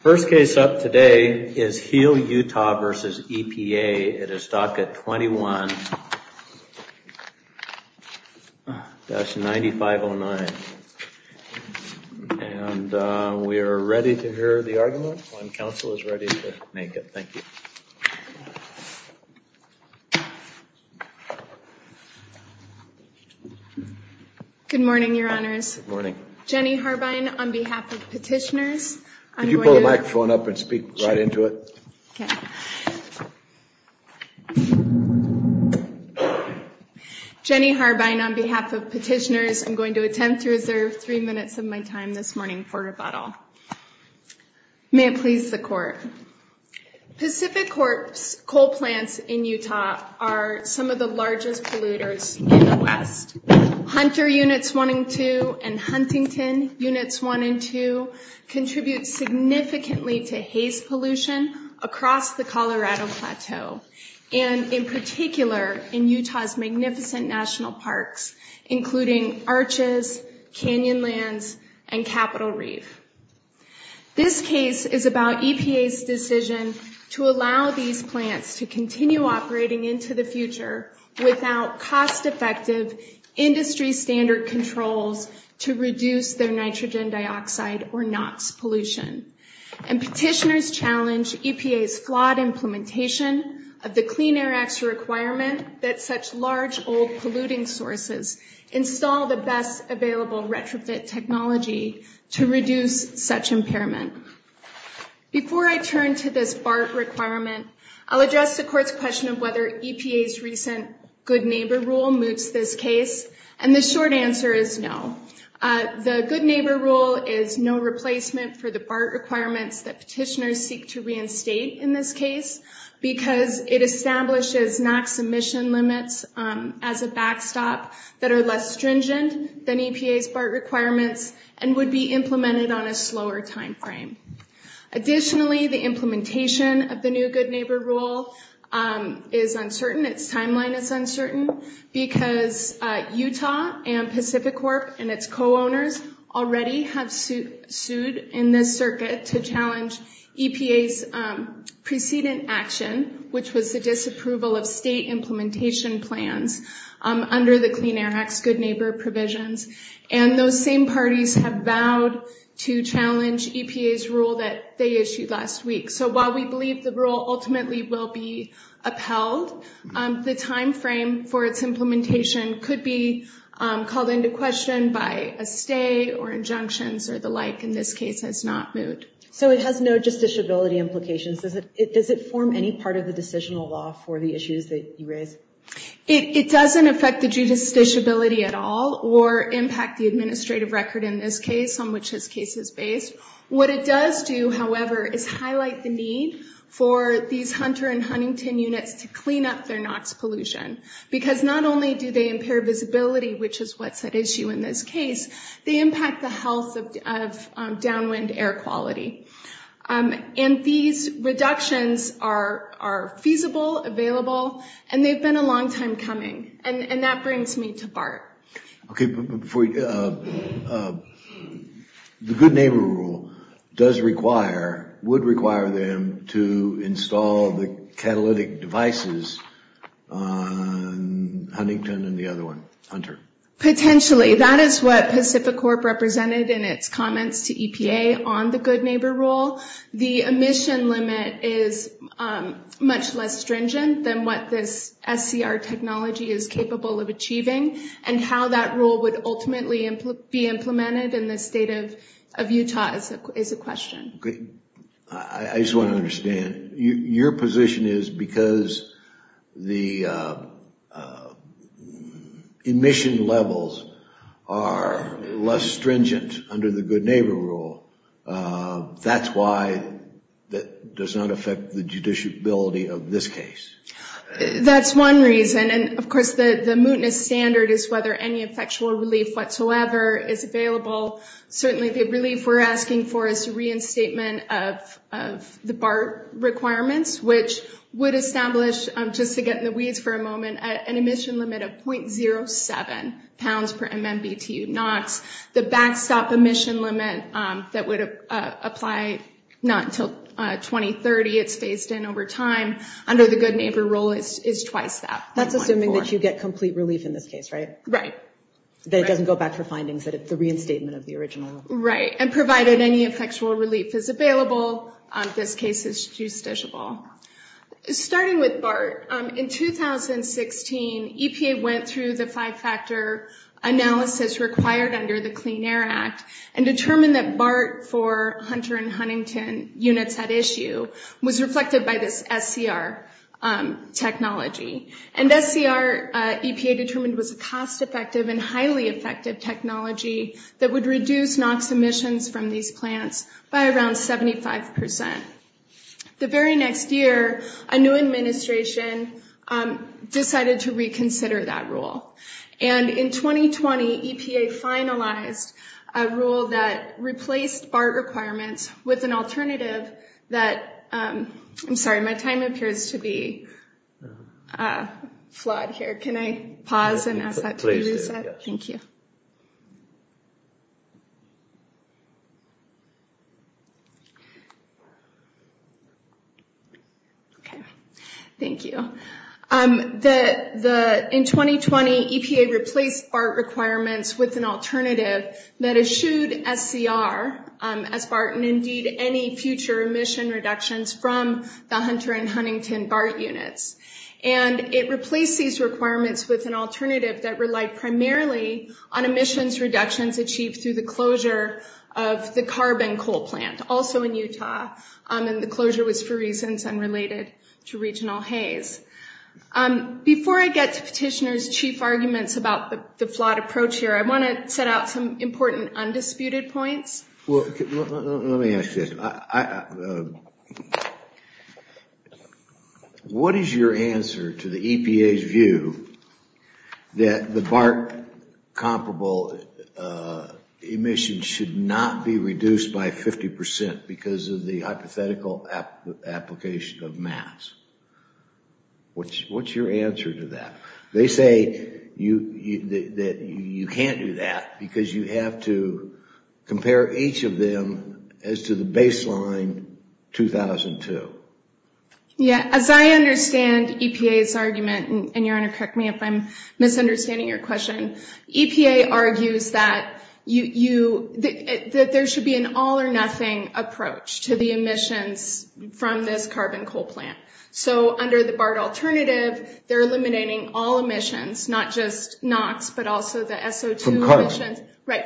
First case up today is Heal Utah v. EPA. It is docket 21-9509. And we are ready to hear the argument when counsel is ready to make it. Thank you. Good morning, Your Honors. Jenny Harbine on behalf of petitioners, I'm going to attempt to reserve three minutes of my time this morning for rebuttal. May it please the Court. Pacific corpse coal plants in Utah are some of the largest polluters in the West. Hunter Units 1 and 2 and Huntington Units 1 and 2 contribute significantly to haze pollution across the Colorado Plateau, and in particular in Utah's magnificent national parks, including Arches, Canyonlands, and Capitol Reef. This case is about EPA's decision to allow these plants to continue operating into the future without cost-effective industry standard controls to reduce their nitrogen dioxide or NOx pollution. And petitioners challenge EPA's flawed implementation of the Clean Air Act's requirement that such large old polluting sources install the best available retrofit technology to reduce such impairment. Before I turn to this BART requirement, I'll address the Court's question of whether EPA's recent Good Neighbor Rule moves this case, and the short answer is no. The Good Neighbor Rule is no replacement for the BART requirements that petitioners seek to reinstate in this case, because it establishes NOx emission limits as a backstop that are less stringent than EPA's BART requirements and would be implemented on a slower time frame. Additionally, the implementation of the new Good Neighbor Rule is uncertain, its timeline is uncertain, because Utah and Pacific Corp. and its co-owners already have sued in this circuit to challenge EPA's preceding action, which was the disapproval of state implementation plans under the Clean Air Act's Good Neighbor provisions, and those same parties have vowed to challenge EPA's rule that they issued last week. So while we believe the rule ultimately will be upheld, the time frame for its implementation could be called into question by a stay or injunctions or the like in this case has not moved. So it has no justiciability implications, does it form any part of the decisional law for the issues that you raise? It doesn't affect the judiciability at all or impact the administrative record in this case on which this case is based. What it does do, however, is highlight the need for these Hunter and Huntington units to clean up their NOx pollution, because not only do they impair visibility, which is what's at issue in this case, they impact the health of downwind air quality. And these reductions are feasible, available, and they've been a long time coming, and that brings me to BART. The Good Neighbor rule does require, would require them to install the catalytic devices on Huntington and the other one, Hunter. Potentially. That is what Pacificorp represented in its comments to EPA on the Good Neighbor rule. The emission limit is much less stringent than what this SCR technology is capable of achieving, and how that rule would ultimately be implemented in the state of Utah is a question. I just want to understand, your position is because the emission levels are less stringent under the Good Neighbor rule, that's why that does not affect the judiciability of this case? That's one reason, and of course the mootness standard is whether any effectual relief whatsoever is available. Certainly the relief we're asking for is the reinstatement of the BART requirements, which would establish, just to get in the weeds for a moment, an emission limit of .07 pounds per MMBTU NOx. The backstop emission limit that would apply not until 2030, it's phased in over time, under the Good Neighbor rule is twice that. That's assuming that you get complete relief in this case, right? Right. That it doesn't go back for findings, that it's the reinstatement of the original. Right, and provided any effectual relief is available, this case is justiciable. Starting with BART, in 2016, EPA went through the five-factor analysis required under the Clean Air Act and determined that BART for Hunter and Huntington units at issue was reflected by this SCR technology. And SCR, EPA determined, was a cost-effective and highly effective technology that would reduce NOx emissions from these plants by around 75%. The very next year, a new administration decided to reconsider that rule. And in 2020, EPA finalized a rule that replaced BART requirements with an alternative that, I'm sorry, my time appears to be flawed here. Can I pause and ask that to be reset? Please. Thank you. Okay. Thank you. In 2020, EPA replaced BART requirements with an alternative that eschewed SCR as BART and, indeed, any future emission reductions from the Hunter and Huntington BART units. And it replaced these requirements with an alternative that relied primarily on emissions reductions achieved through the closure of the carbon coal plant, also in Utah. And the closure was for reasons unrelated to regional haze. Before I get to Petitioner's chief arguments about the flawed approach here, I want to set out some important undisputed points. Let me ask you this. What is your answer to the EPA's view that the BART comparable emissions should not be reduced by 50% because of the hypothetical application of mass? What's your answer to that? They say that you can't do that because you have to compare each of them as to the baseline 2002. Yeah. As I understand EPA's argument, and your Honor, correct me if I'm misunderstanding your question, EPA argues that there should be an all or nothing approach to the emissions from this carbon coal plant. So under the BART alternative, they're eliminating all emissions, not just NOx, but also the SO2 emissions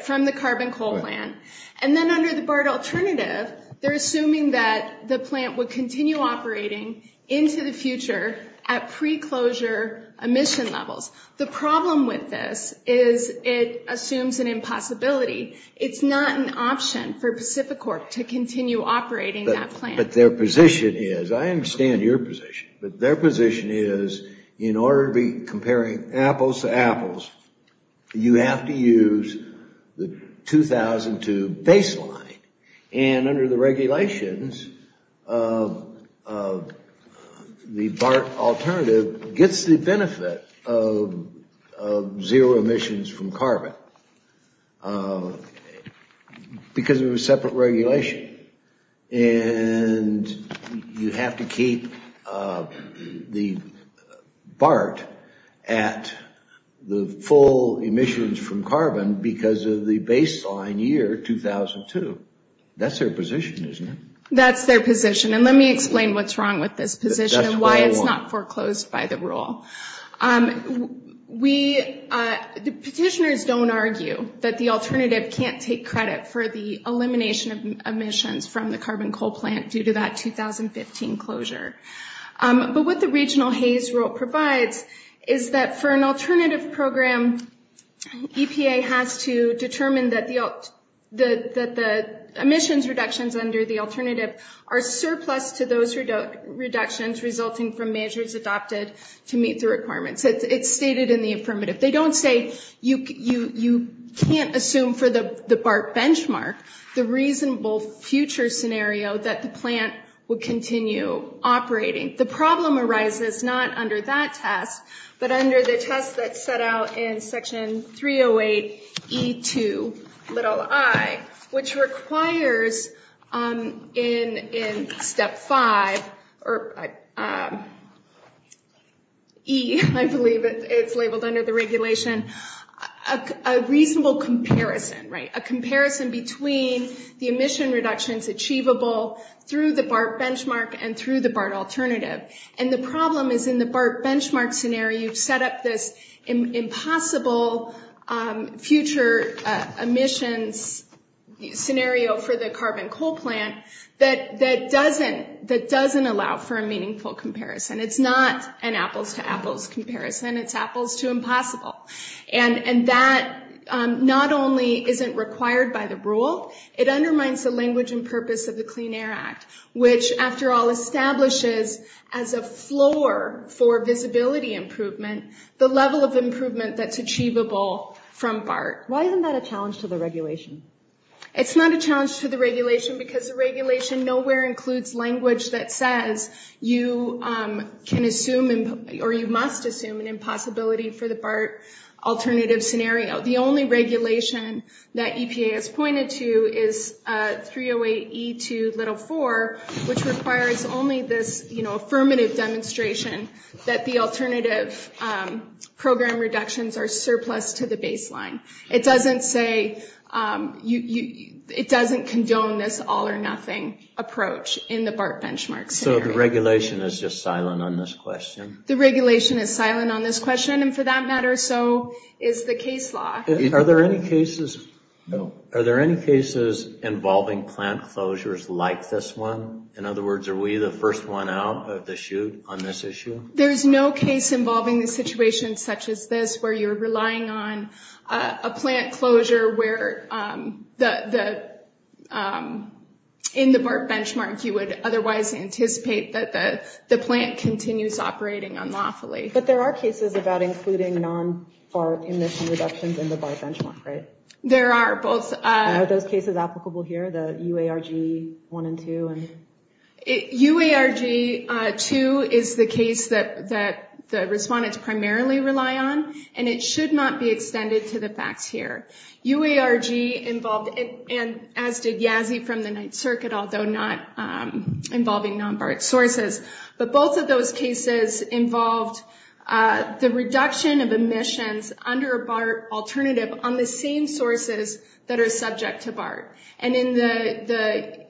from the carbon coal plant. And then under the BART alternative, they're assuming that the plant would continue operating into the future at pre-closure emission levels. The problem with this is it assumes an impossibility. It's not an option for Pacific Corp to continue operating that plant. But their position is, I understand your position, but their position is in order to be comparing apples to apples, you have to use the 2002 baseline. And under the regulations, the BART alternative gets the benefit of zero emissions from carbon because it was separate regulation. And you have to keep the BART at the full emissions from carbon because of the baseline year 2002. That's their position, isn't it? That's their position. And let me explain what's wrong with this position and why it's not foreclosed by the rule. Petitioners don't argue that the alternative can't take credit for the elimination of emissions from the carbon coal plant due to that 2015 closure. But what the regional Hays rule provides is that for an alternative program, EPA has to determine that the emissions reductions under the alternative are surplus to those reductions resulting from measures adopted to meet the requirements. It's stated in the affirmative. They don't say you can't assume for the BART benchmark the reasonable future scenario that the plant would continue operating. The problem arises not under that test, but under the test that's set out in Section 308E2i, which requires in Step 5, or E, I believe it's labeled under the regulation, a reasonable comparison. A comparison between the emission reductions achievable through the BART benchmark and through the BART alternative. And the problem is in the BART benchmark scenario, you've set up this impossible future emissions scenario for the carbon coal plant that doesn't allow for a meaningful comparison. It's not an apples to apples comparison. It's apples to impossible. And that not only isn't required by the rule, it undermines the language and purpose of the Clean Air Act, which after all establishes as a floor for visibility improvement the level of improvement that's achievable from BART. Why isn't that a challenge to the regulation? It's not a challenge to the regulation because the regulation nowhere includes language that says you can assume or you must assume an impossibility for the BART alternative scenario. The only regulation that EPA has pointed to is 308E2i, which requires only this affirmative demonstration that the alternative program reductions are surplus to the baseline. It doesn't say, it doesn't condone this all or nothing approach in the BART benchmark scenario. So the regulation is just silent on this question? The regulation is silent on this question and for that matter so is the case law. Are there any cases involving plant closures like this one? In other words, are we the first one out of the chute on this issue? There's no case involving the situation such as this where you're relying on a plant closure where in the BART benchmark you would otherwise anticipate that the plant continues operating unlawfully. But there are cases about including non-BART emission reductions in the BART benchmark, right? There are both. Are those cases applicable here, the UARG 1 and 2? UARG 2 is the case that the respondents primarily rely on and it should not be extended to the facts here. UARG involved, and as did Yazzie from the Ninth Circuit, although not involving non-BART sources, but both of those cases involved the reduction of emissions under a BART alternative on the same sources that are subject to BART. And in the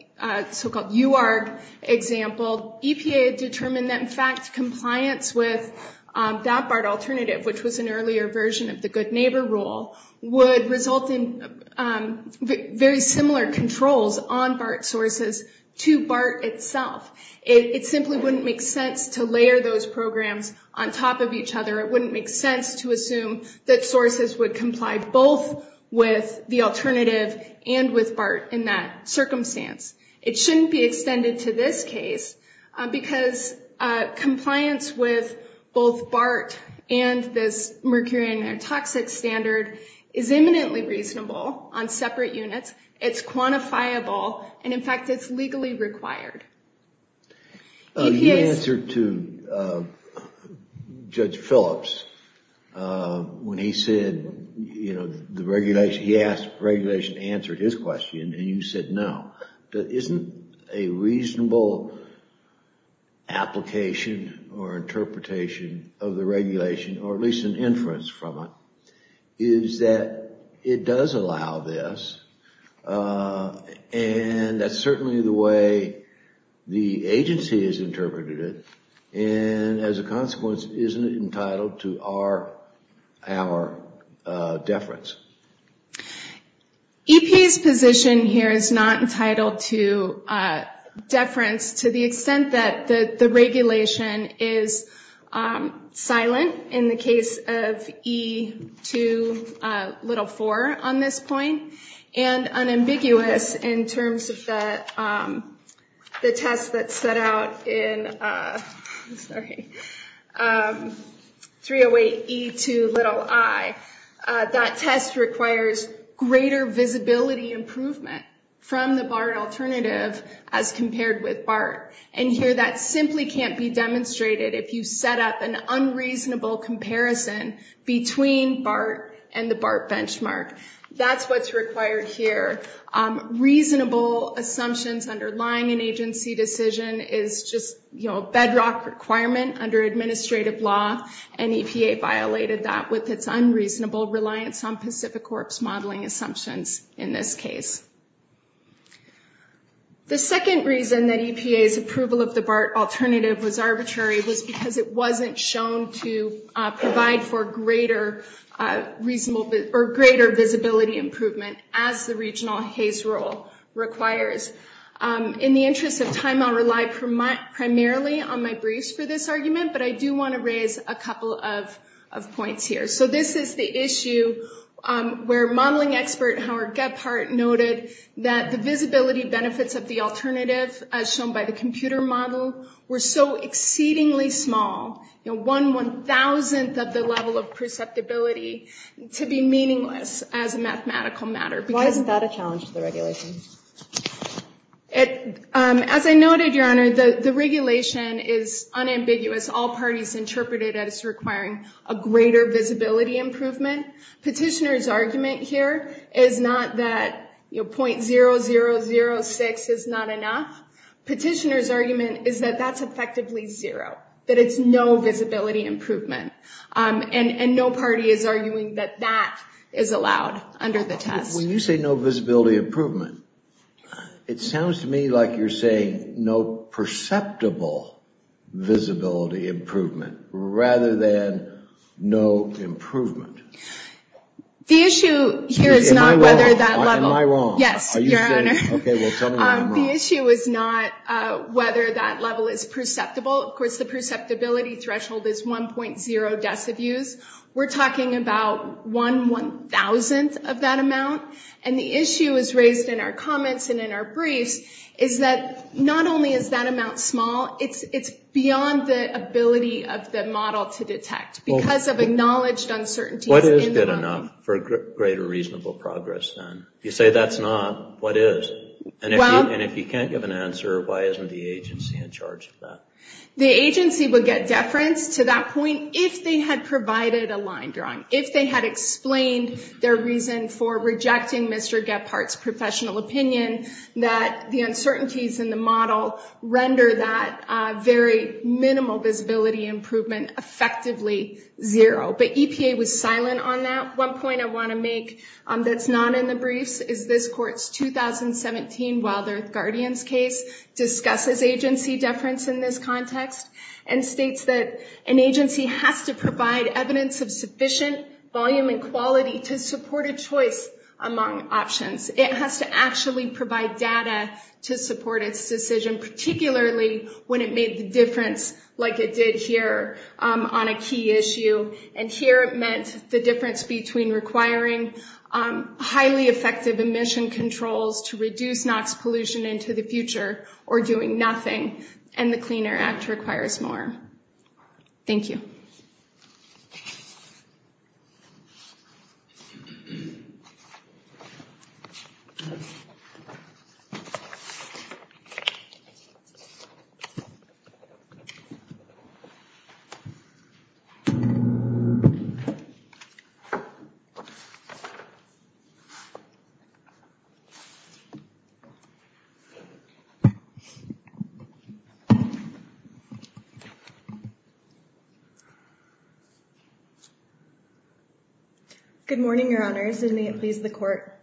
so-called UARG example, EPA determined that in fact compliance with that BART alternative, which was an earlier version of the good neighbor rule, would result in very similar controls on BART sources to BART itself. It simply wouldn't make sense to layer those programs on top of each other. It wouldn't make sense to assume that sources would comply both with the alternative and with BART in that circumstance. It shouldn't be extended to this case because compliance with both BART and this mercury and air toxics standard is eminently reasonable on separate units. It's quantifiable and in fact it's legally required. You answered to Judge Phillips when he said, you know, the regulation, he asked, the regulation answered his question and you said no. Isn't a reasonable application or interpretation of the regulation or at least an inference from it, is that it does allow this And that's certainly the way the agency has interpreted it. And as a consequence, isn't it entitled to our deference? EPA's position here is not entitled to deference to the extent that the regulation is silent. In the case of E2l4 on this point and unambiguous in terms of the test that set out in 308E2i, that test requires greater visibility improvement from the BART alternative as compared with BART. And here that simply can't be demonstrated if you set up an unreasonable comparison between BART and the BART benchmark. That's what's required here. Reasonable assumptions underlying an agency decision is just, you know, a bedrock requirement under administrative law. And EPA violated that with its unreasonable reliance on Pacific Corps modeling assumptions in this case. The second reason that EPA's approval of the BART alternative was arbitrary was because it wasn't shown to provide for greater visibility improvement as the regional HAYS rule requires. In the interest of time, I'll rely primarily on my briefs for this argument, but I do want to raise a couple of points here. So this is the issue where modeling expert Howard Gebhardt noted that the visibility benefits of the alternative, as shown by the computer model, were so exceedingly small, you know, one one-thousandth of the level of perceptibility, to be meaningless as a mathematical matter. Why isn't that a challenge to the regulation? As I noted, Your Honor, the regulation is unambiguous. All parties interpret it as requiring a greater visibility improvement. Petitioner's argument here is not that, you know, .0006 is not enough. Petitioner's argument is that that's effectively zero, that it's no visibility improvement. And no party is arguing that that is allowed under the test. When you say no visibility improvement, it sounds to me like you're saying no perceptible visibility improvement rather than no improvement. The issue here is not whether that level... Am I wrong? Yes, Your Honor. Okay, well tell me I'm wrong. The issue is not whether that level is perceptible. Of course, the perceptibility threshold is 1.0 deciviews. We're talking about one one-thousandth of that amount. And the issue is raised in our comments and in our briefs is that not only is that amount small, it's beyond the ability of the model to detect. Because of acknowledged uncertainties in the model. What is good enough for greater reasonable progress then? You say that's not, what is? And if you can't give an answer, why isn't the agency in charge of that? The agency would get deference to that point if they had provided a line drawing. If they had explained their reason for rejecting Mr. Gephardt's professional opinion that the uncertainties in the model render that very minimal visibility improvement effectively zero. But EPA was silent on that. One point I want to make that's not in the briefs is this court's 2017 Wild Earth Guardians case discusses agency deference in this context. And states that an agency has to provide evidence of sufficient volume and quality to support a choice among options. It has to actually provide data to support its decision. Particularly when it made the difference like it did here on a key issue. And here it meant the difference between requiring highly effective emission controls to reduce NOx pollution into the future or doing nothing. And the Clean Air Act requires more. Thank you. Good morning, Your Honors, and may it please the court.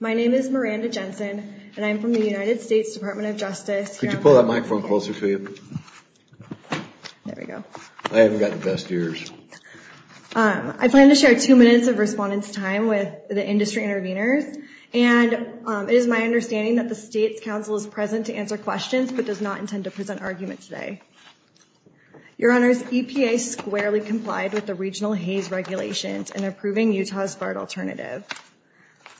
My name is Miranda Jensen, and I'm from the United States Department of Justice. Could you pull that microphone closer to you? There we go. I haven't got the best ears. I plan to share two minutes of respondents' time with the industry interveners. And it is my understanding that the state's counsel is present to answer questions but does not intend to present arguments today. Your Honors, EPA squarely complied with the regional Hays regulations in approving Utah's BART alternative.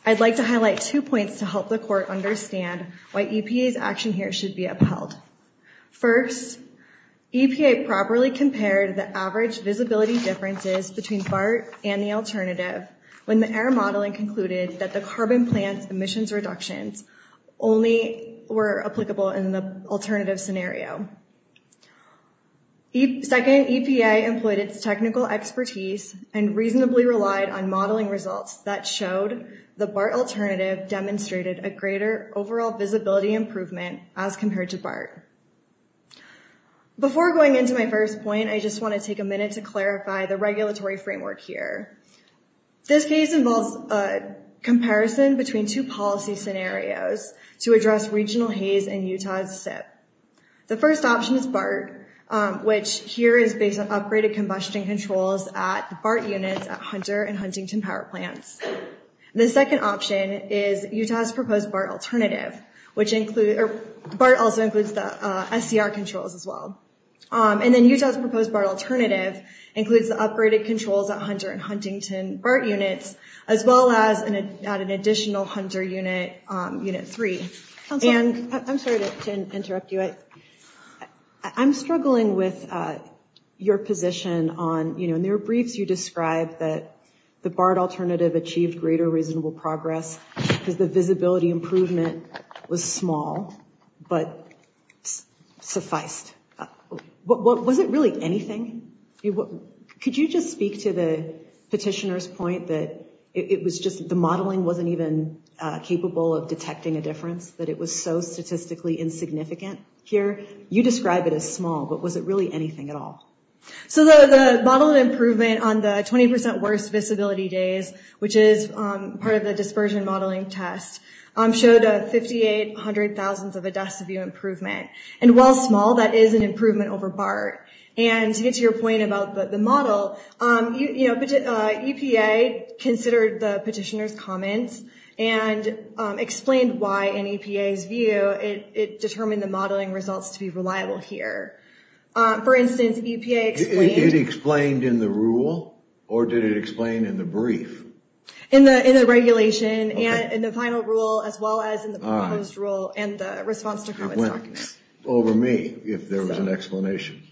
I'd like to highlight two points to help the court understand why EPA's action here should be upheld. First, EPA properly compared the average visibility differences between BART and the alternative when the air modeling concluded that the carbon plant's emissions reductions only were applicable in the alternative scenario. Second, EPA employed its technical expertise and reasonably relied on modeling results that showed the BART alternative demonstrated a greater overall visibility improvement as compared to BART. Before going into my first point, I just want to take a minute to clarify the regulatory framework here. This case involves a comparison between two policy scenarios to address regional Hays and Utah's SIP. The first option is BART, which here is based on upgraded combustion controls at BART units at Hunter and Huntington power plants. The second option is Utah's proposed BART alternative, which includes, or BART also includes the SCR controls as well. And then Utah's proposed BART alternative includes the upgraded controls at Hunter and Huntington BART units, as well as an additional Hunter unit, unit three. I'm sorry to interrupt you. I'm struggling with your position on, you know, there are briefs you described that the BART alternative achieved greater reasonable progress because the visibility improvement was small, but sufficed. Was it really anything? Could you just speak to the petitioner's point that it was just the modeling wasn't even capable of detecting a difference, that it was so statistically insignificant here? You describe it as small, but was it really anything at all? So the model improvement on the 20% worse visibility days, which is part of the dispersion modeling test, showed a 5,800 thousands of a deci view improvement. And while small, that is an improvement over BART. And to get to your point about the model, you know, EPA considered the petitioner's comments and explained why in EPA's view it determined the modeling results to be reliable here. For instance, EPA explained... It explained in the rule or did it explain in the brief? In the regulation and in the final rule, as well as in the proposed rule and the response to comments. It went over me if there was an explanation.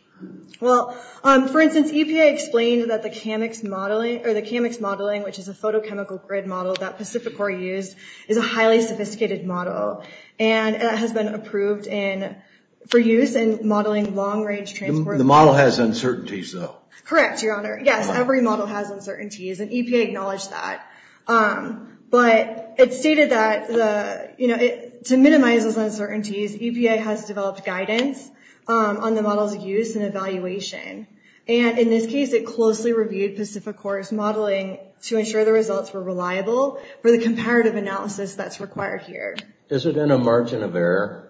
Well, for instance, EPA explained that the CAMIX modeling, or the CAMIX modeling, which is a photochemical grid model that Pacific Core used, is a highly sophisticated model. And it has been approved for use in modeling long-range transport. The model has uncertainties, though. Correct, Your Honor. Yes, every model has uncertainties, and EPA acknowledged that. But it stated that, you know, to minimize those uncertainties, EPA has developed guidance on the model's use and evaluation. And in this case, it closely reviewed Pacific Core's modeling to ensure the results were reliable for the comparative analysis that's required here. Is there been a margin of error?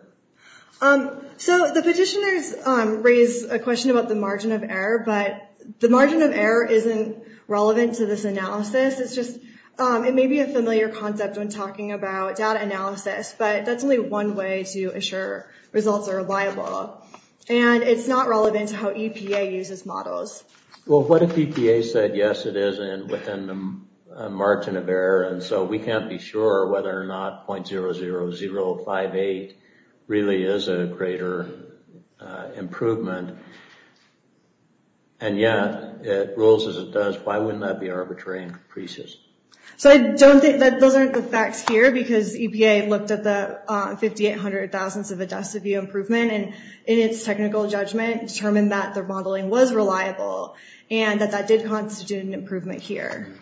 So the petitioners raised a question about the margin of error, but the margin of error isn't relevant to this analysis. It's just, it may be a familiar concept when talking about data analysis, but that's only one way to assure results are reliable. And it's not relevant to how EPA uses models. Well, what if EPA said, yes, it is within a margin of error, and so we can't be sure whether or not .00058 really is a greater improvement? And yeah, it rules as it does. Why wouldn't that be arbitrary and capricious? So I don't think, those aren't the facts here, because EPA looked at the .00058 of a deciview improvement, and in its technical judgment, determined that their modeling was reliable, and that that did constitute an improvement here.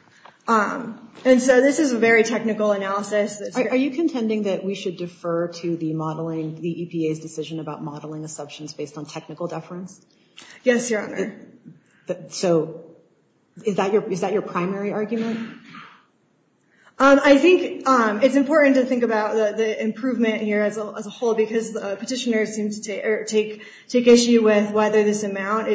And so this is a very technical analysis. Are you contending that we should defer to the EPA's decision about modeling assumptions based on technical deference? Yes, Your Honor. So is that your primary argument? I think it's important to think about the improvement here as a whole, because the petitioners seem to take issue with whether this amount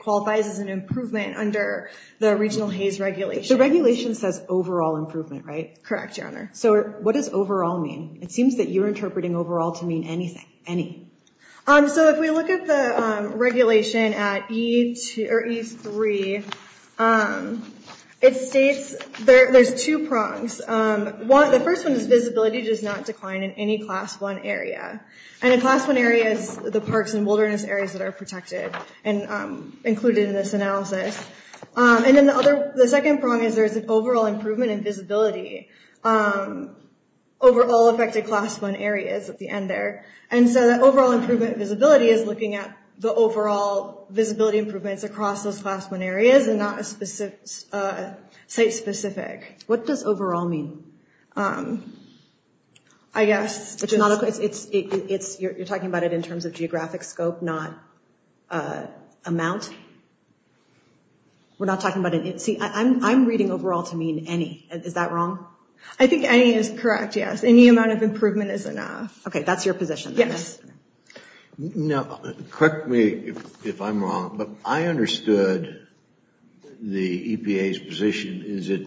qualifies as an improvement under the regional HAYS regulation. The regulation says overall improvement, right? Correct, Your Honor. So what does overall mean? It seems that you're interpreting overall to mean anything, any. So if we look at the regulation at E3, it states, there's two prongs. The first one is visibility does not decline in any Class I area. And a Class I area is the parks and wilderness areas that are protected and included in this analysis. And then the second prong is there's an overall improvement in visibility over all affected Class I areas at the end there. And so that overall improvement in visibility is looking at the overall visibility improvements across those Class I areas, and not a site-specific. What does overall mean? I guess you're talking about it in terms of geographic scope, not amount. We're not talking about it. See, I'm reading overall to mean any. Is that wrong? I think any is correct, yes. Any amount of improvement is enough. Okay, that's your position. Yes. Now, correct me if I'm wrong, but I understood the EPA's position is that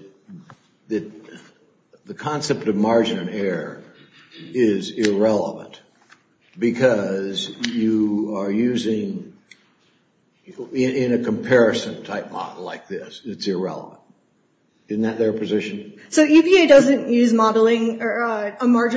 the concept of margin of error is irrelevant because you are using, in a comparison type model like this, it's irrelevant. Isn't that their position? So EPA doesn't use a margin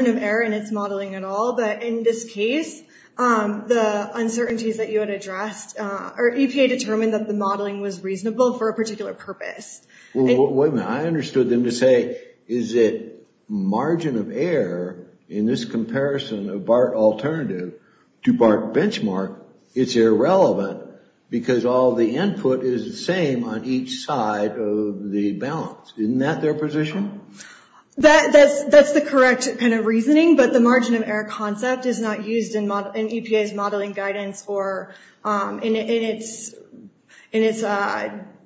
of error in its modeling at all, but in this case, the uncertainties that you had addressed, EPA determined that the modeling was reasonable for a particular purpose. Wait a minute. I understood them to say, is it margin of error in this comparison of BART alternative to BART benchmark, it's irrelevant because all the input is the same on each side of the balance. Isn't that their position? That's the correct kind of reasoning, but the margin of error concept is not used in EPA's modeling guidance or in its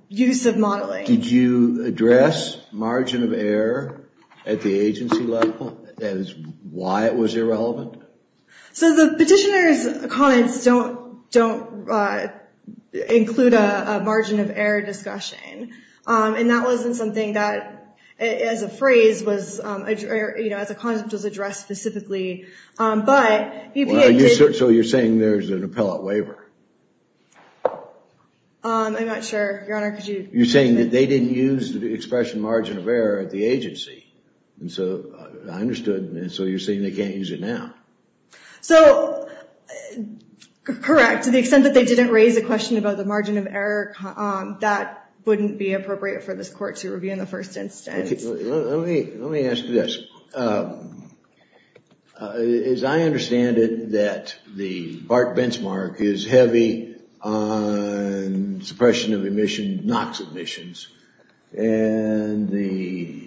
use of modeling. Did you address margin of error at the agency level? That is why it was irrelevant? So the petitioner's comments don't include a margin of error discussion, and that wasn't something that as a concept was addressed specifically. So you're saying there's an appellate waiver? I'm not sure, Your Honor. You're saying that they didn't use the expression margin of error at the agency. I understood, so you're saying they can't use it now. So, correct, to the extent that they didn't raise a question about the margin of error, that wouldn't be appropriate for this court to review in the first instance. Let me ask you this. As I understand it, that the BART benchmark is heavy on suppression of emissions, NOx emissions, and the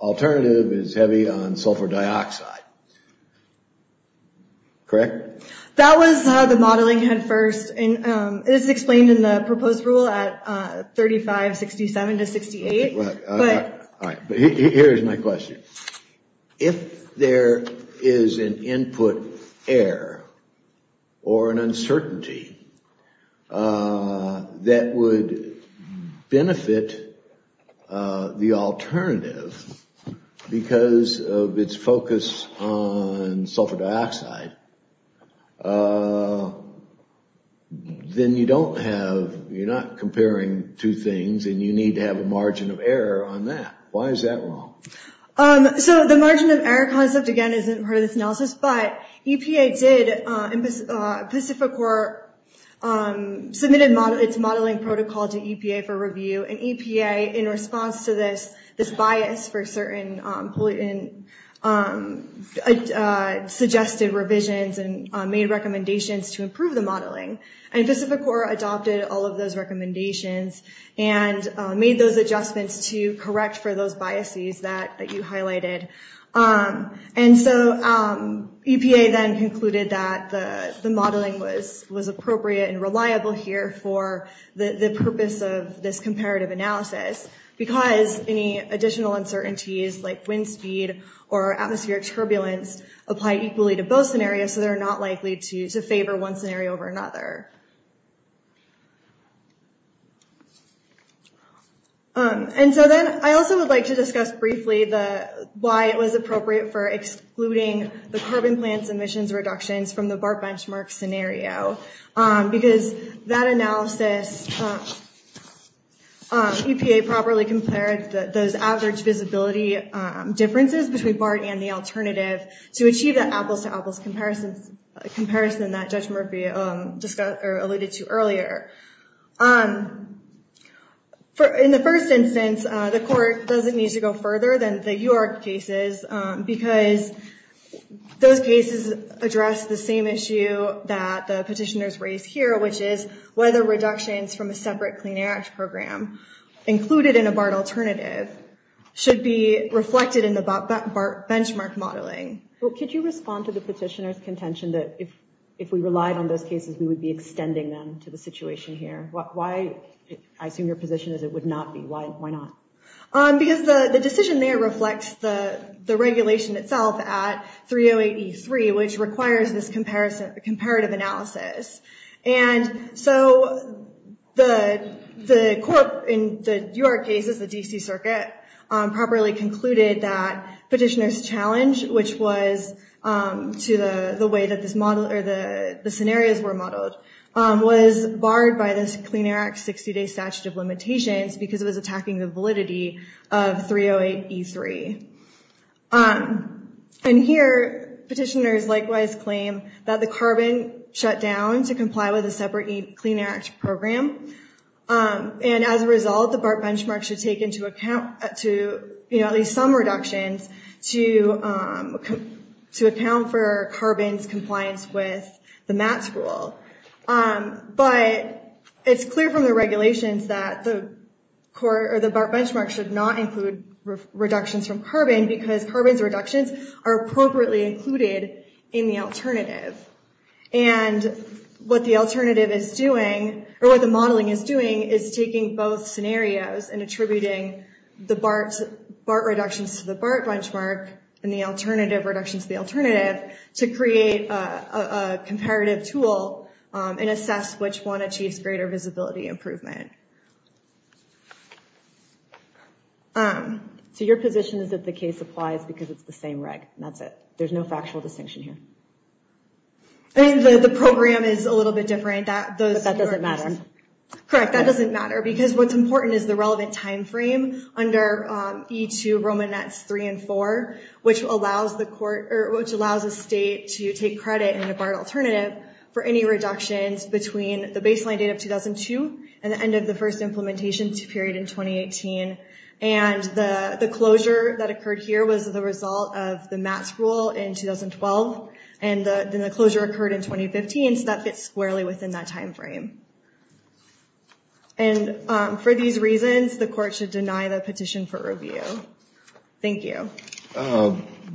alternative is heavy on sulfur dioxide. Correct? That was the modeling headfirst. It is explained in the proposed rule at 3567 to 68. Here's my question. If there is an input error or an uncertainty that would benefit the alternative because of its focus on sulfur dioxide, then you don't have, you're not comparing two things and you need to have a margin of error on that. Why is that wrong? So the margin of error concept, again, isn't part of this analysis, but EPA did, Pacific Corps submitted its modeling protocol to EPA for review, and EPA, in response to this, this bias for certain suggested revisions and made recommendations to improve the modeling. And Pacific Corps adopted all of those recommendations and made those adjustments to correct for those biases that you highlighted. And so EPA then concluded that the modeling was appropriate and reliable here for the purpose of this comparative analysis because any additional uncertainties like wind speed or atmospheric turbulence apply equally to both scenarios, so they're not likely to favor one scenario over another. And so then I also would like to discuss briefly why it was appropriate for excluding the carbon plant emissions reductions from the BART benchmark scenario because that analysis, EPA properly compared those average visibility differences between BART and the alternative to achieve that apples-to-apples comparison that Judge Murphy alluded to earlier. In the first instance, the court doesn't need to go further than the UARC cases because those cases address the same issue that the petitioners raised here, which is whether reductions from a separate Clean Air Act program included in a BART alternative should be reflected in the BART benchmark modeling. Could you respond to the petitioners' contention that if we relied on those cases, we would be extending them to the situation here? I assume your position is it would not be. Why not? Because the decision there reflects the regulation itself at 3083, which requires this comparative analysis. And so the court, in the UARC cases, the D.C. Circuit, properly concluded that petitioners' challenge, which was to the way that the scenarios were modeled, was barred by this Clean Air Act 60-day statute of limitations because it was attacking the validity of 308E3. And here, petitioners likewise claim that the CARBON shut down to comply with a separate Clean Air Act program. And as a result, the BART benchmark should take into account at least some reductions to account for CARBON's compliance with the MATS rule. But it's clear from the regulations that the BART benchmark should not include reductions from CARBON because CARBON's reductions are appropriately included in the alternative. And what the alternative is doing, or what the modeling is doing, is taking both scenarios and attributing the BART reductions to the BART benchmark and the alternative reductions to the alternative to create a comparative tool and assess which one achieves greater visibility improvement. So your position is that the case applies because it's the same reg, and that's it. There's no factual distinction here. I mean, the program is a little bit different. But that doesn't matter. Correct, that doesn't matter because what's important is the relevant timeframe under E2, Roman NETS 3 and 4, which allows the state to take credit in a BART alternative for any reductions between the baseline date of 2002 and the end of the first implementation period in 2018. And the closure that occurred here was the result of the MATS rule in 2012. And then the closure occurred in 2015, so that fits squarely within that timeframe. And for these reasons, the court should deny the petition for review. Thank you.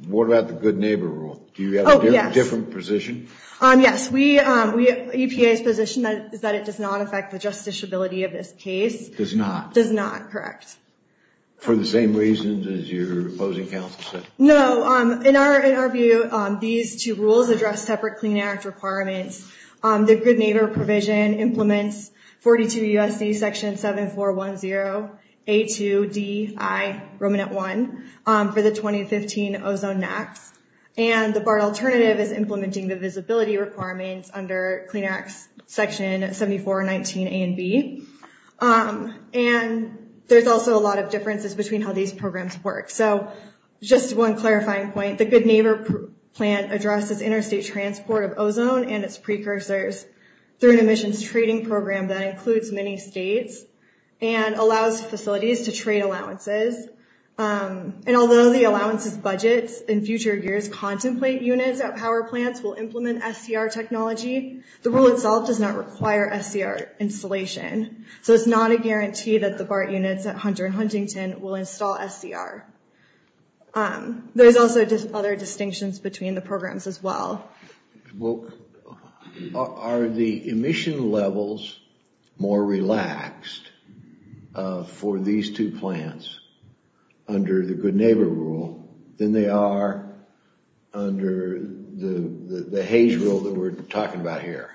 What about the good neighbor rule? Do you have a different position? Yes. EPA's position is that it does not affect the justiciability of this case. Does not? Does not, correct. For the same reasons as your opposing counsel said? No. In our view, these two rules address separate Clean Act requirements. The good neighbor provision implements 42 U.S.C. Section 7410, A2, D, I, Roman NET 1 for the 2015 Ozone NETS. And the BART alternative is implementing the visibility requirements under Clean Act Section 7419, A and B. And there's also a lot of differences between how these programs work. So just one clarifying point. The good neighbor plan addresses interstate transport of ozone and its precursors through an emissions trading program that includes many states and allows facilities to trade allowances. And although the allowances budget in future years contemplate units at power plants will implement SCR technology, the rule itself does not require SCR installation. So it's not a guarantee that the BART units at Hunter and Huntington will install SCR. There's also other distinctions between the programs as well. Well, are the emission levels more relaxed for these two plans under the good neighbor rule than they are under the Hays rule that we're talking about here?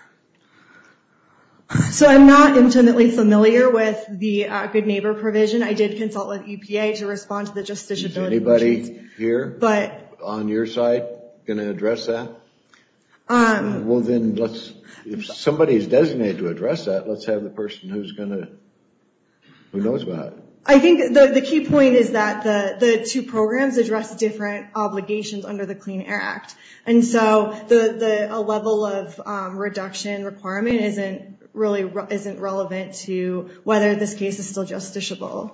So I'm not intimately familiar with the good neighbor provision. I did consult with EPA to respond to the justiciability questions. Is anybody here on your side going to address that? Well then, if somebody is designated to address that, let's have the person who knows about it. I think the key point is that the two programs address different obligations under the Clean Air Act. And so a level of reduction requirement really isn't relevant to whether this case is still justiciable.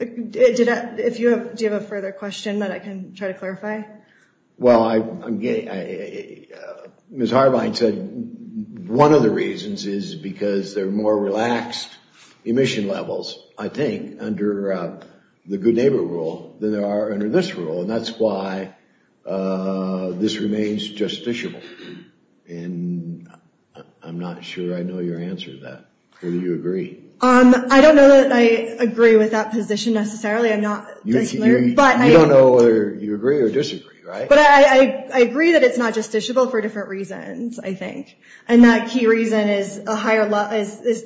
Do you have a further question that I can try to clarify? Well, Ms. Harbine said one of the reasons is because there are more relaxed emission levels, I think, under the good neighbor rule than there are under this rule. And that's why this remains justiciable. And I'm not sure I know your answer to that. Do you agree? I don't know that I agree with that position necessarily. You don't know whether you agree or disagree, right? But I agree that it's not justiciable for different reasons, I think. And that key reason is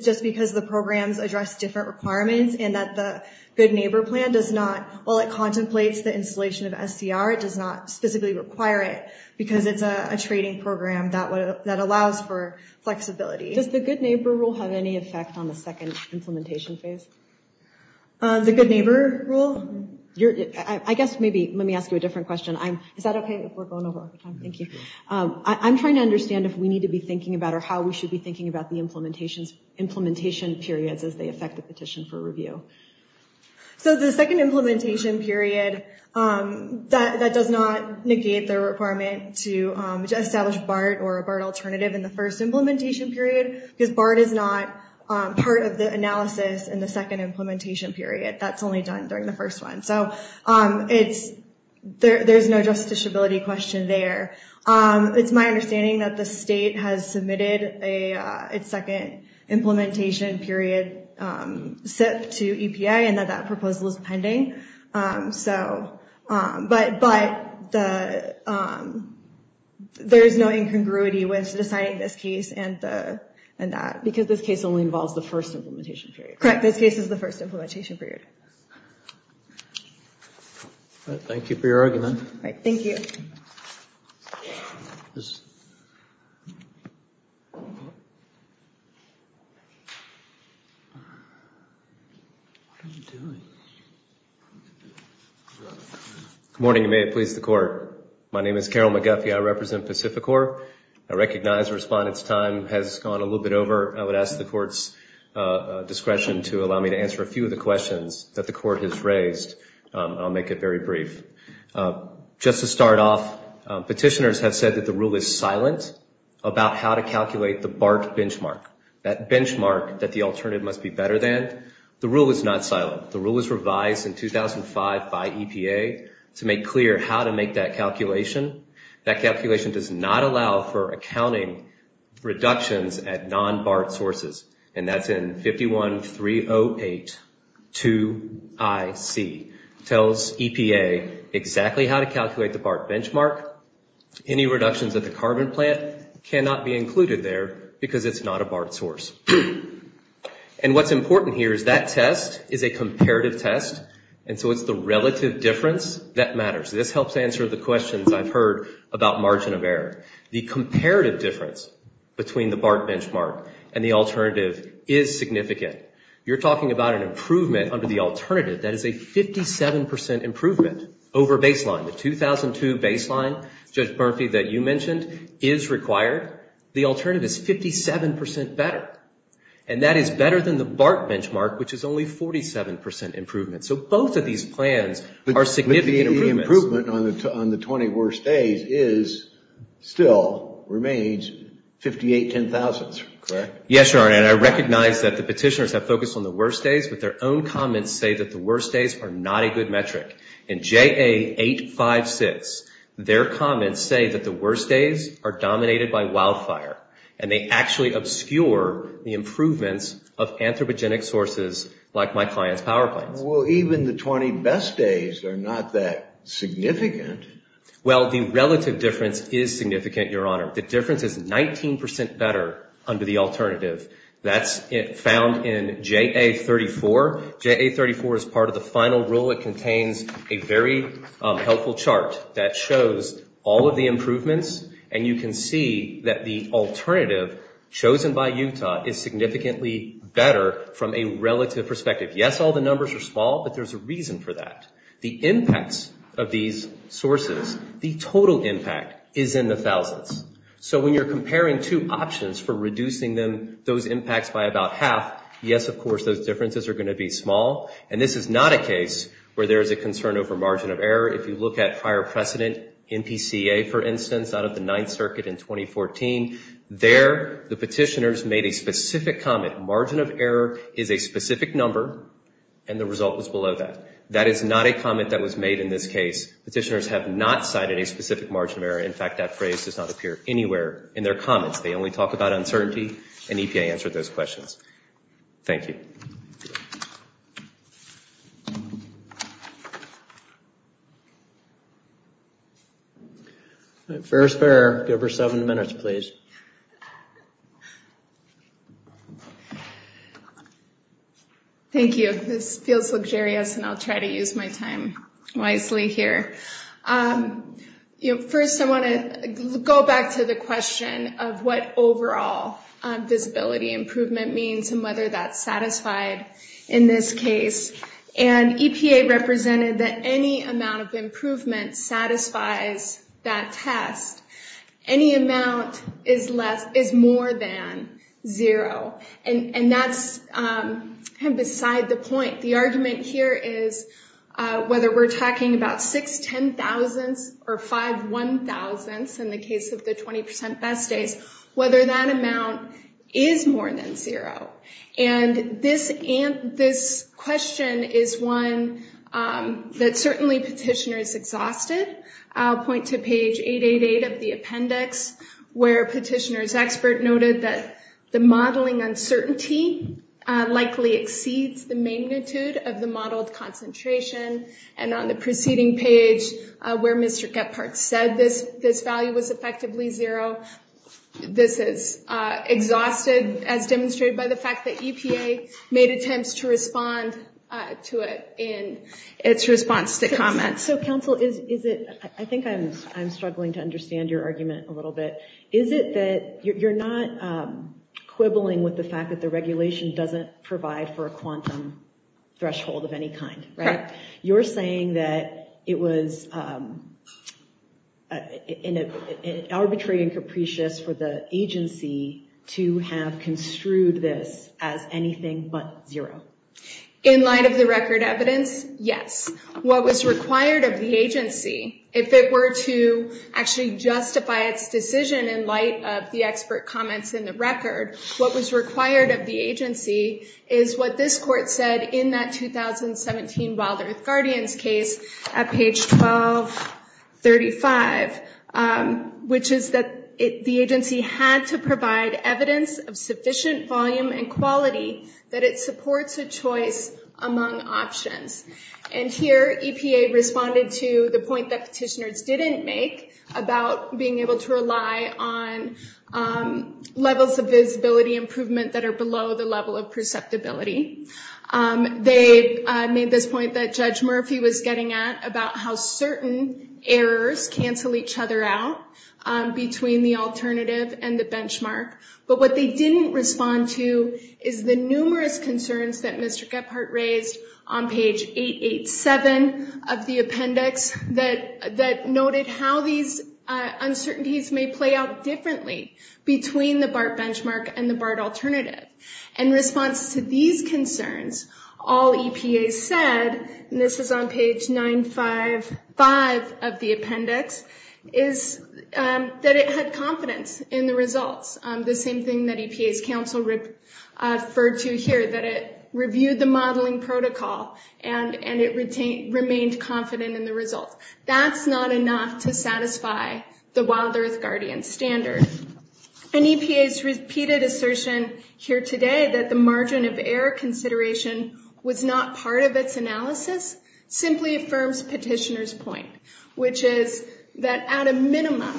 just because the programs address different requirements and that the good neighbor plan does not, while it contemplates the installation of SCR, it does not specifically require it because it's a trading program that allows for flexibility. Does the good neighbor rule have any effect on the second implementation phase? The good neighbor rule? I guess maybe let me ask you a different question. Is that okay if we're going over? Thank you. I'm trying to understand if we need to be thinking about or how we should be thinking about the implementation periods as they affect the petition for review. So the second implementation period, that does not negate the requirement to establish BART or a BART alternative in the first implementation period, because BART is not part of the analysis in the second implementation period. That's only done during the first one. So there's no justiciability question there. It's my understanding that the state has submitted its second implementation period SIP to EPA and that that proposal is pending. But there's no incongruity when deciding this case and that, because this case only involves the first implementation period. Correct, this case is the first implementation period. Thank you for your argument. Thank you. Good morning, and may it please the Court. My name is Carroll McGuffey. I represent Pacificorps. I recognize the respondent's time has gone a little bit over. I would ask the Court's discretion to allow me to answer a few of the questions that the Court has raised. I'll make it very brief. Just to start off, petitioners have said that the rule is silent about how to calculate the BART benchmark, that benchmark that the alternative must be better than. The rule is not silent. The rule was revised in 2005 by EPA to make clear how to make that calculation. That calculation does not allow for accounting reductions at non-BART sources, and that's in 51-308-2IC. It tells EPA exactly how to calculate the BART benchmark. Any reductions at the carbon plant cannot be included there because it's not a BART source. And what's important here is that test is a comparative test, and so it's the relative difference that matters. This helps answer the questions I've heard about margin of error. The comparative difference between the BART benchmark and the alternative is significant. You're talking about an improvement under the alternative. That is a 57 percent improvement over baseline. The 2002 baseline, Judge Murphy, that you mentioned, is required. The alternative is 57 percent better, and that is better than the BART benchmark, which is only 47 percent improvement. So both of these plans are significant improvements. But the improvement on the 20 worst days is still, remains, 58-10,000, correct? Yes, Your Honor, and I recognize that the petitioners have focused on the worst days, but their own comments say that the worst days are not a good metric. In JA856, their comments say that the worst days are dominated by wildfire, and they actually obscure the improvements of anthropogenic sources like my client's power plants. Well, even the 20 best days are not that significant. Well, the relative difference is significant, Your Honor. The difference is 19 percent better under the alternative. That's found in JA34. JA34 is part of the final rule. It contains a very helpful chart that shows all of the improvements, and you can see that the alternative chosen by Utah is significantly better from a relative perspective. Yes, all the numbers are small, but there's a reason for that. The impacts of these sources, the total impact is in the thousands. So when you're comparing two options for reducing those impacts by about half, yes, of course, those differences are going to be small, and this is not a case where there is a concern over margin of error. If you look at prior precedent in PCA, for instance, out of the Ninth Circuit in 2014, there the petitioners made a specific comment, margin of error is a specific number, and the result was below that. That is not a comment that was made in this case. Petitioners have not cited a specific margin of error. In fact, that phrase does not appear anywhere in their comments. They only talk about uncertainty, and EPA answered those questions. Thank you. Thank you. This feels luxurious, and I'll try to use my time wisely here. First, I want to go back to the question of what overall visibility improvement means and whether that's satisfied in this case, and EPA represented that any amount of improvement satisfies that test. Any amount is more than zero, and that's kind of beside the point. The argument here is whether we're talking about six ten-thousandths or five one-thousandths in the case of the 20% best days, whether that amount is more than zero. This question is one that certainly petitioners exhausted. I'll point to page 888 of the appendix where a petitioner's expert noted that the modeling uncertainty likely exceeds the magnitude of the modeled concentration, and on the preceding page where Mr. Kephart said this value was effectively zero. This is exhausted as demonstrated by the fact that EPA made attempts to respond to it in its response to comments. So, counsel, I think I'm struggling to understand your argument a little bit. Is it that you're not quibbling with the fact that the regulation doesn't provide for a quantum threshold of any kind, right? You're saying that it was arbitrary and capricious for the agency to have construed this as anything but zero. In light of the record evidence, yes. What was required of the agency, if it were to actually justify its decision in light of the expert comments in the record, what was required of the agency is what this court said in that 2017 Wild Earth Guardians case at page 1235, which is that the agency had to provide evidence of sufficient volume and quality that it supports a choice among options. And here EPA responded to the point that petitioners didn't make about being able to rely on levels of visibility improvement that are below the level of perceptibility. They made this point that Judge Murphy was getting at about how certain errors cancel each other out between the alternative and the benchmark. But what they didn't respond to is the numerous concerns that Mr. Gephardt raised on page 887 of the appendix that noted how these uncertainties may play out differently between the BART benchmark and the BART alternative. In response to these concerns, all EPA said, and this is on page 955 of the appendix, is that it had confidence in the results. The same thing that EPA's counsel referred to here, that it reviewed the modeling protocol and it remained confident in the results. That's not enough to satisfy the Wild Earth Guardians standard. And EPA's repeated assertion here today that the margin of error consideration was not part of its analysis simply affirms petitioner's point, which is that at a minimum,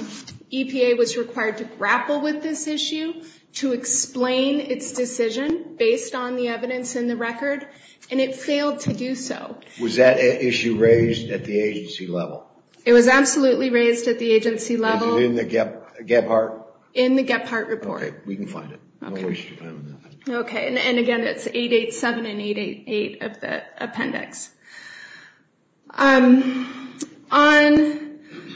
EPA was required to grapple with this issue, to explain its decision based on the evidence in the record, and it failed to do so. Was that issue raised at the agency level? It was absolutely raised at the agency level. Was it in the Gephardt? In the Gephardt report. Okay, we can find it. Okay, and again, it's 887 and 888 of the appendix. On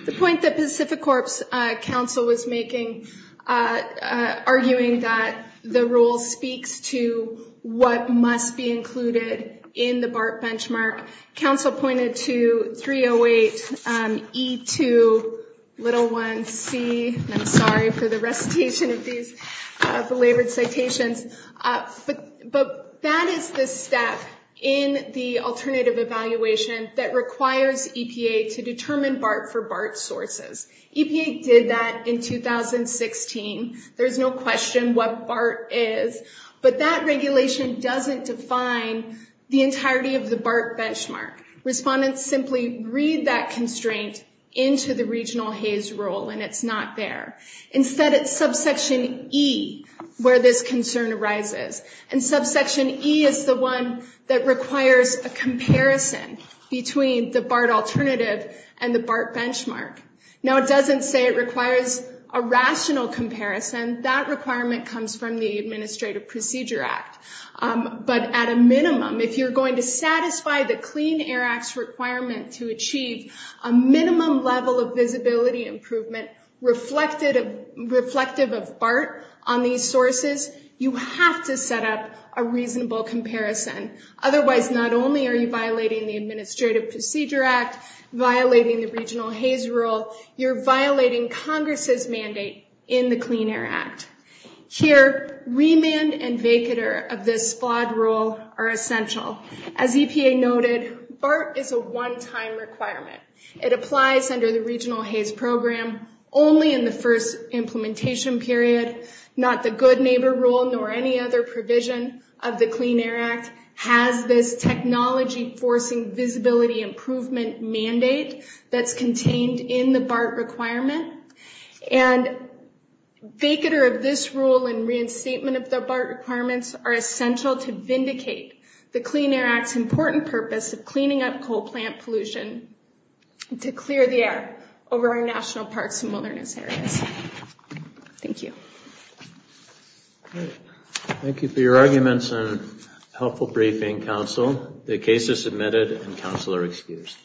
the point that Pacific Corp's counsel was making, arguing that the rule speaks to what must be included in the BART benchmark, counsel pointed to 308E2c. I'm sorry for the recitation of these belabored citations. But that is the step in the alternative evaluation that requires EPA to determine BART for BART sources. EPA did that in 2016. There's no question what BART is. But that regulation doesn't define the entirety of the BART benchmark. Respondents simply read that constraint into the regional HAYS rule, and it's not there. Instead, it's subsection E where this concern arises. And subsection E is the one that requires a comparison between the BART alternative and the BART benchmark. Now, it doesn't say it requires a rational comparison. That requirement comes from the Administrative Procedure Act. But at a minimum, if you're going to satisfy the Clean Air Act's requirement to achieve a minimum level of visibility improvement reflective of BART on these sources, you have to set up a reasonable comparison. Otherwise, not only are you violating the Administrative Procedure Act, violating the regional HAYS rule, you're violating Congress's mandate in the Clean Air Act. Here, remand and vacater of this flawed rule are essential. As EPA noted, BART is a one-time requirement. It applies under the regional HAYS program only in the first implementation period. Not the good neighbor rule nor any other provision of the Clean Air Act has this technology-forcing visibility improvement mandate that's contained in the BART requirement. And vacater of this rule and reinstatement of the BART requirements are essential to vindicate the Clean Air Act's important purpose of cleaning up coal plant pollution to clear the air over our national parks and wilderness areas. Thank you. Thank you for your arguments and helpful briefing, counsel. The case is submitted and counsel are excused.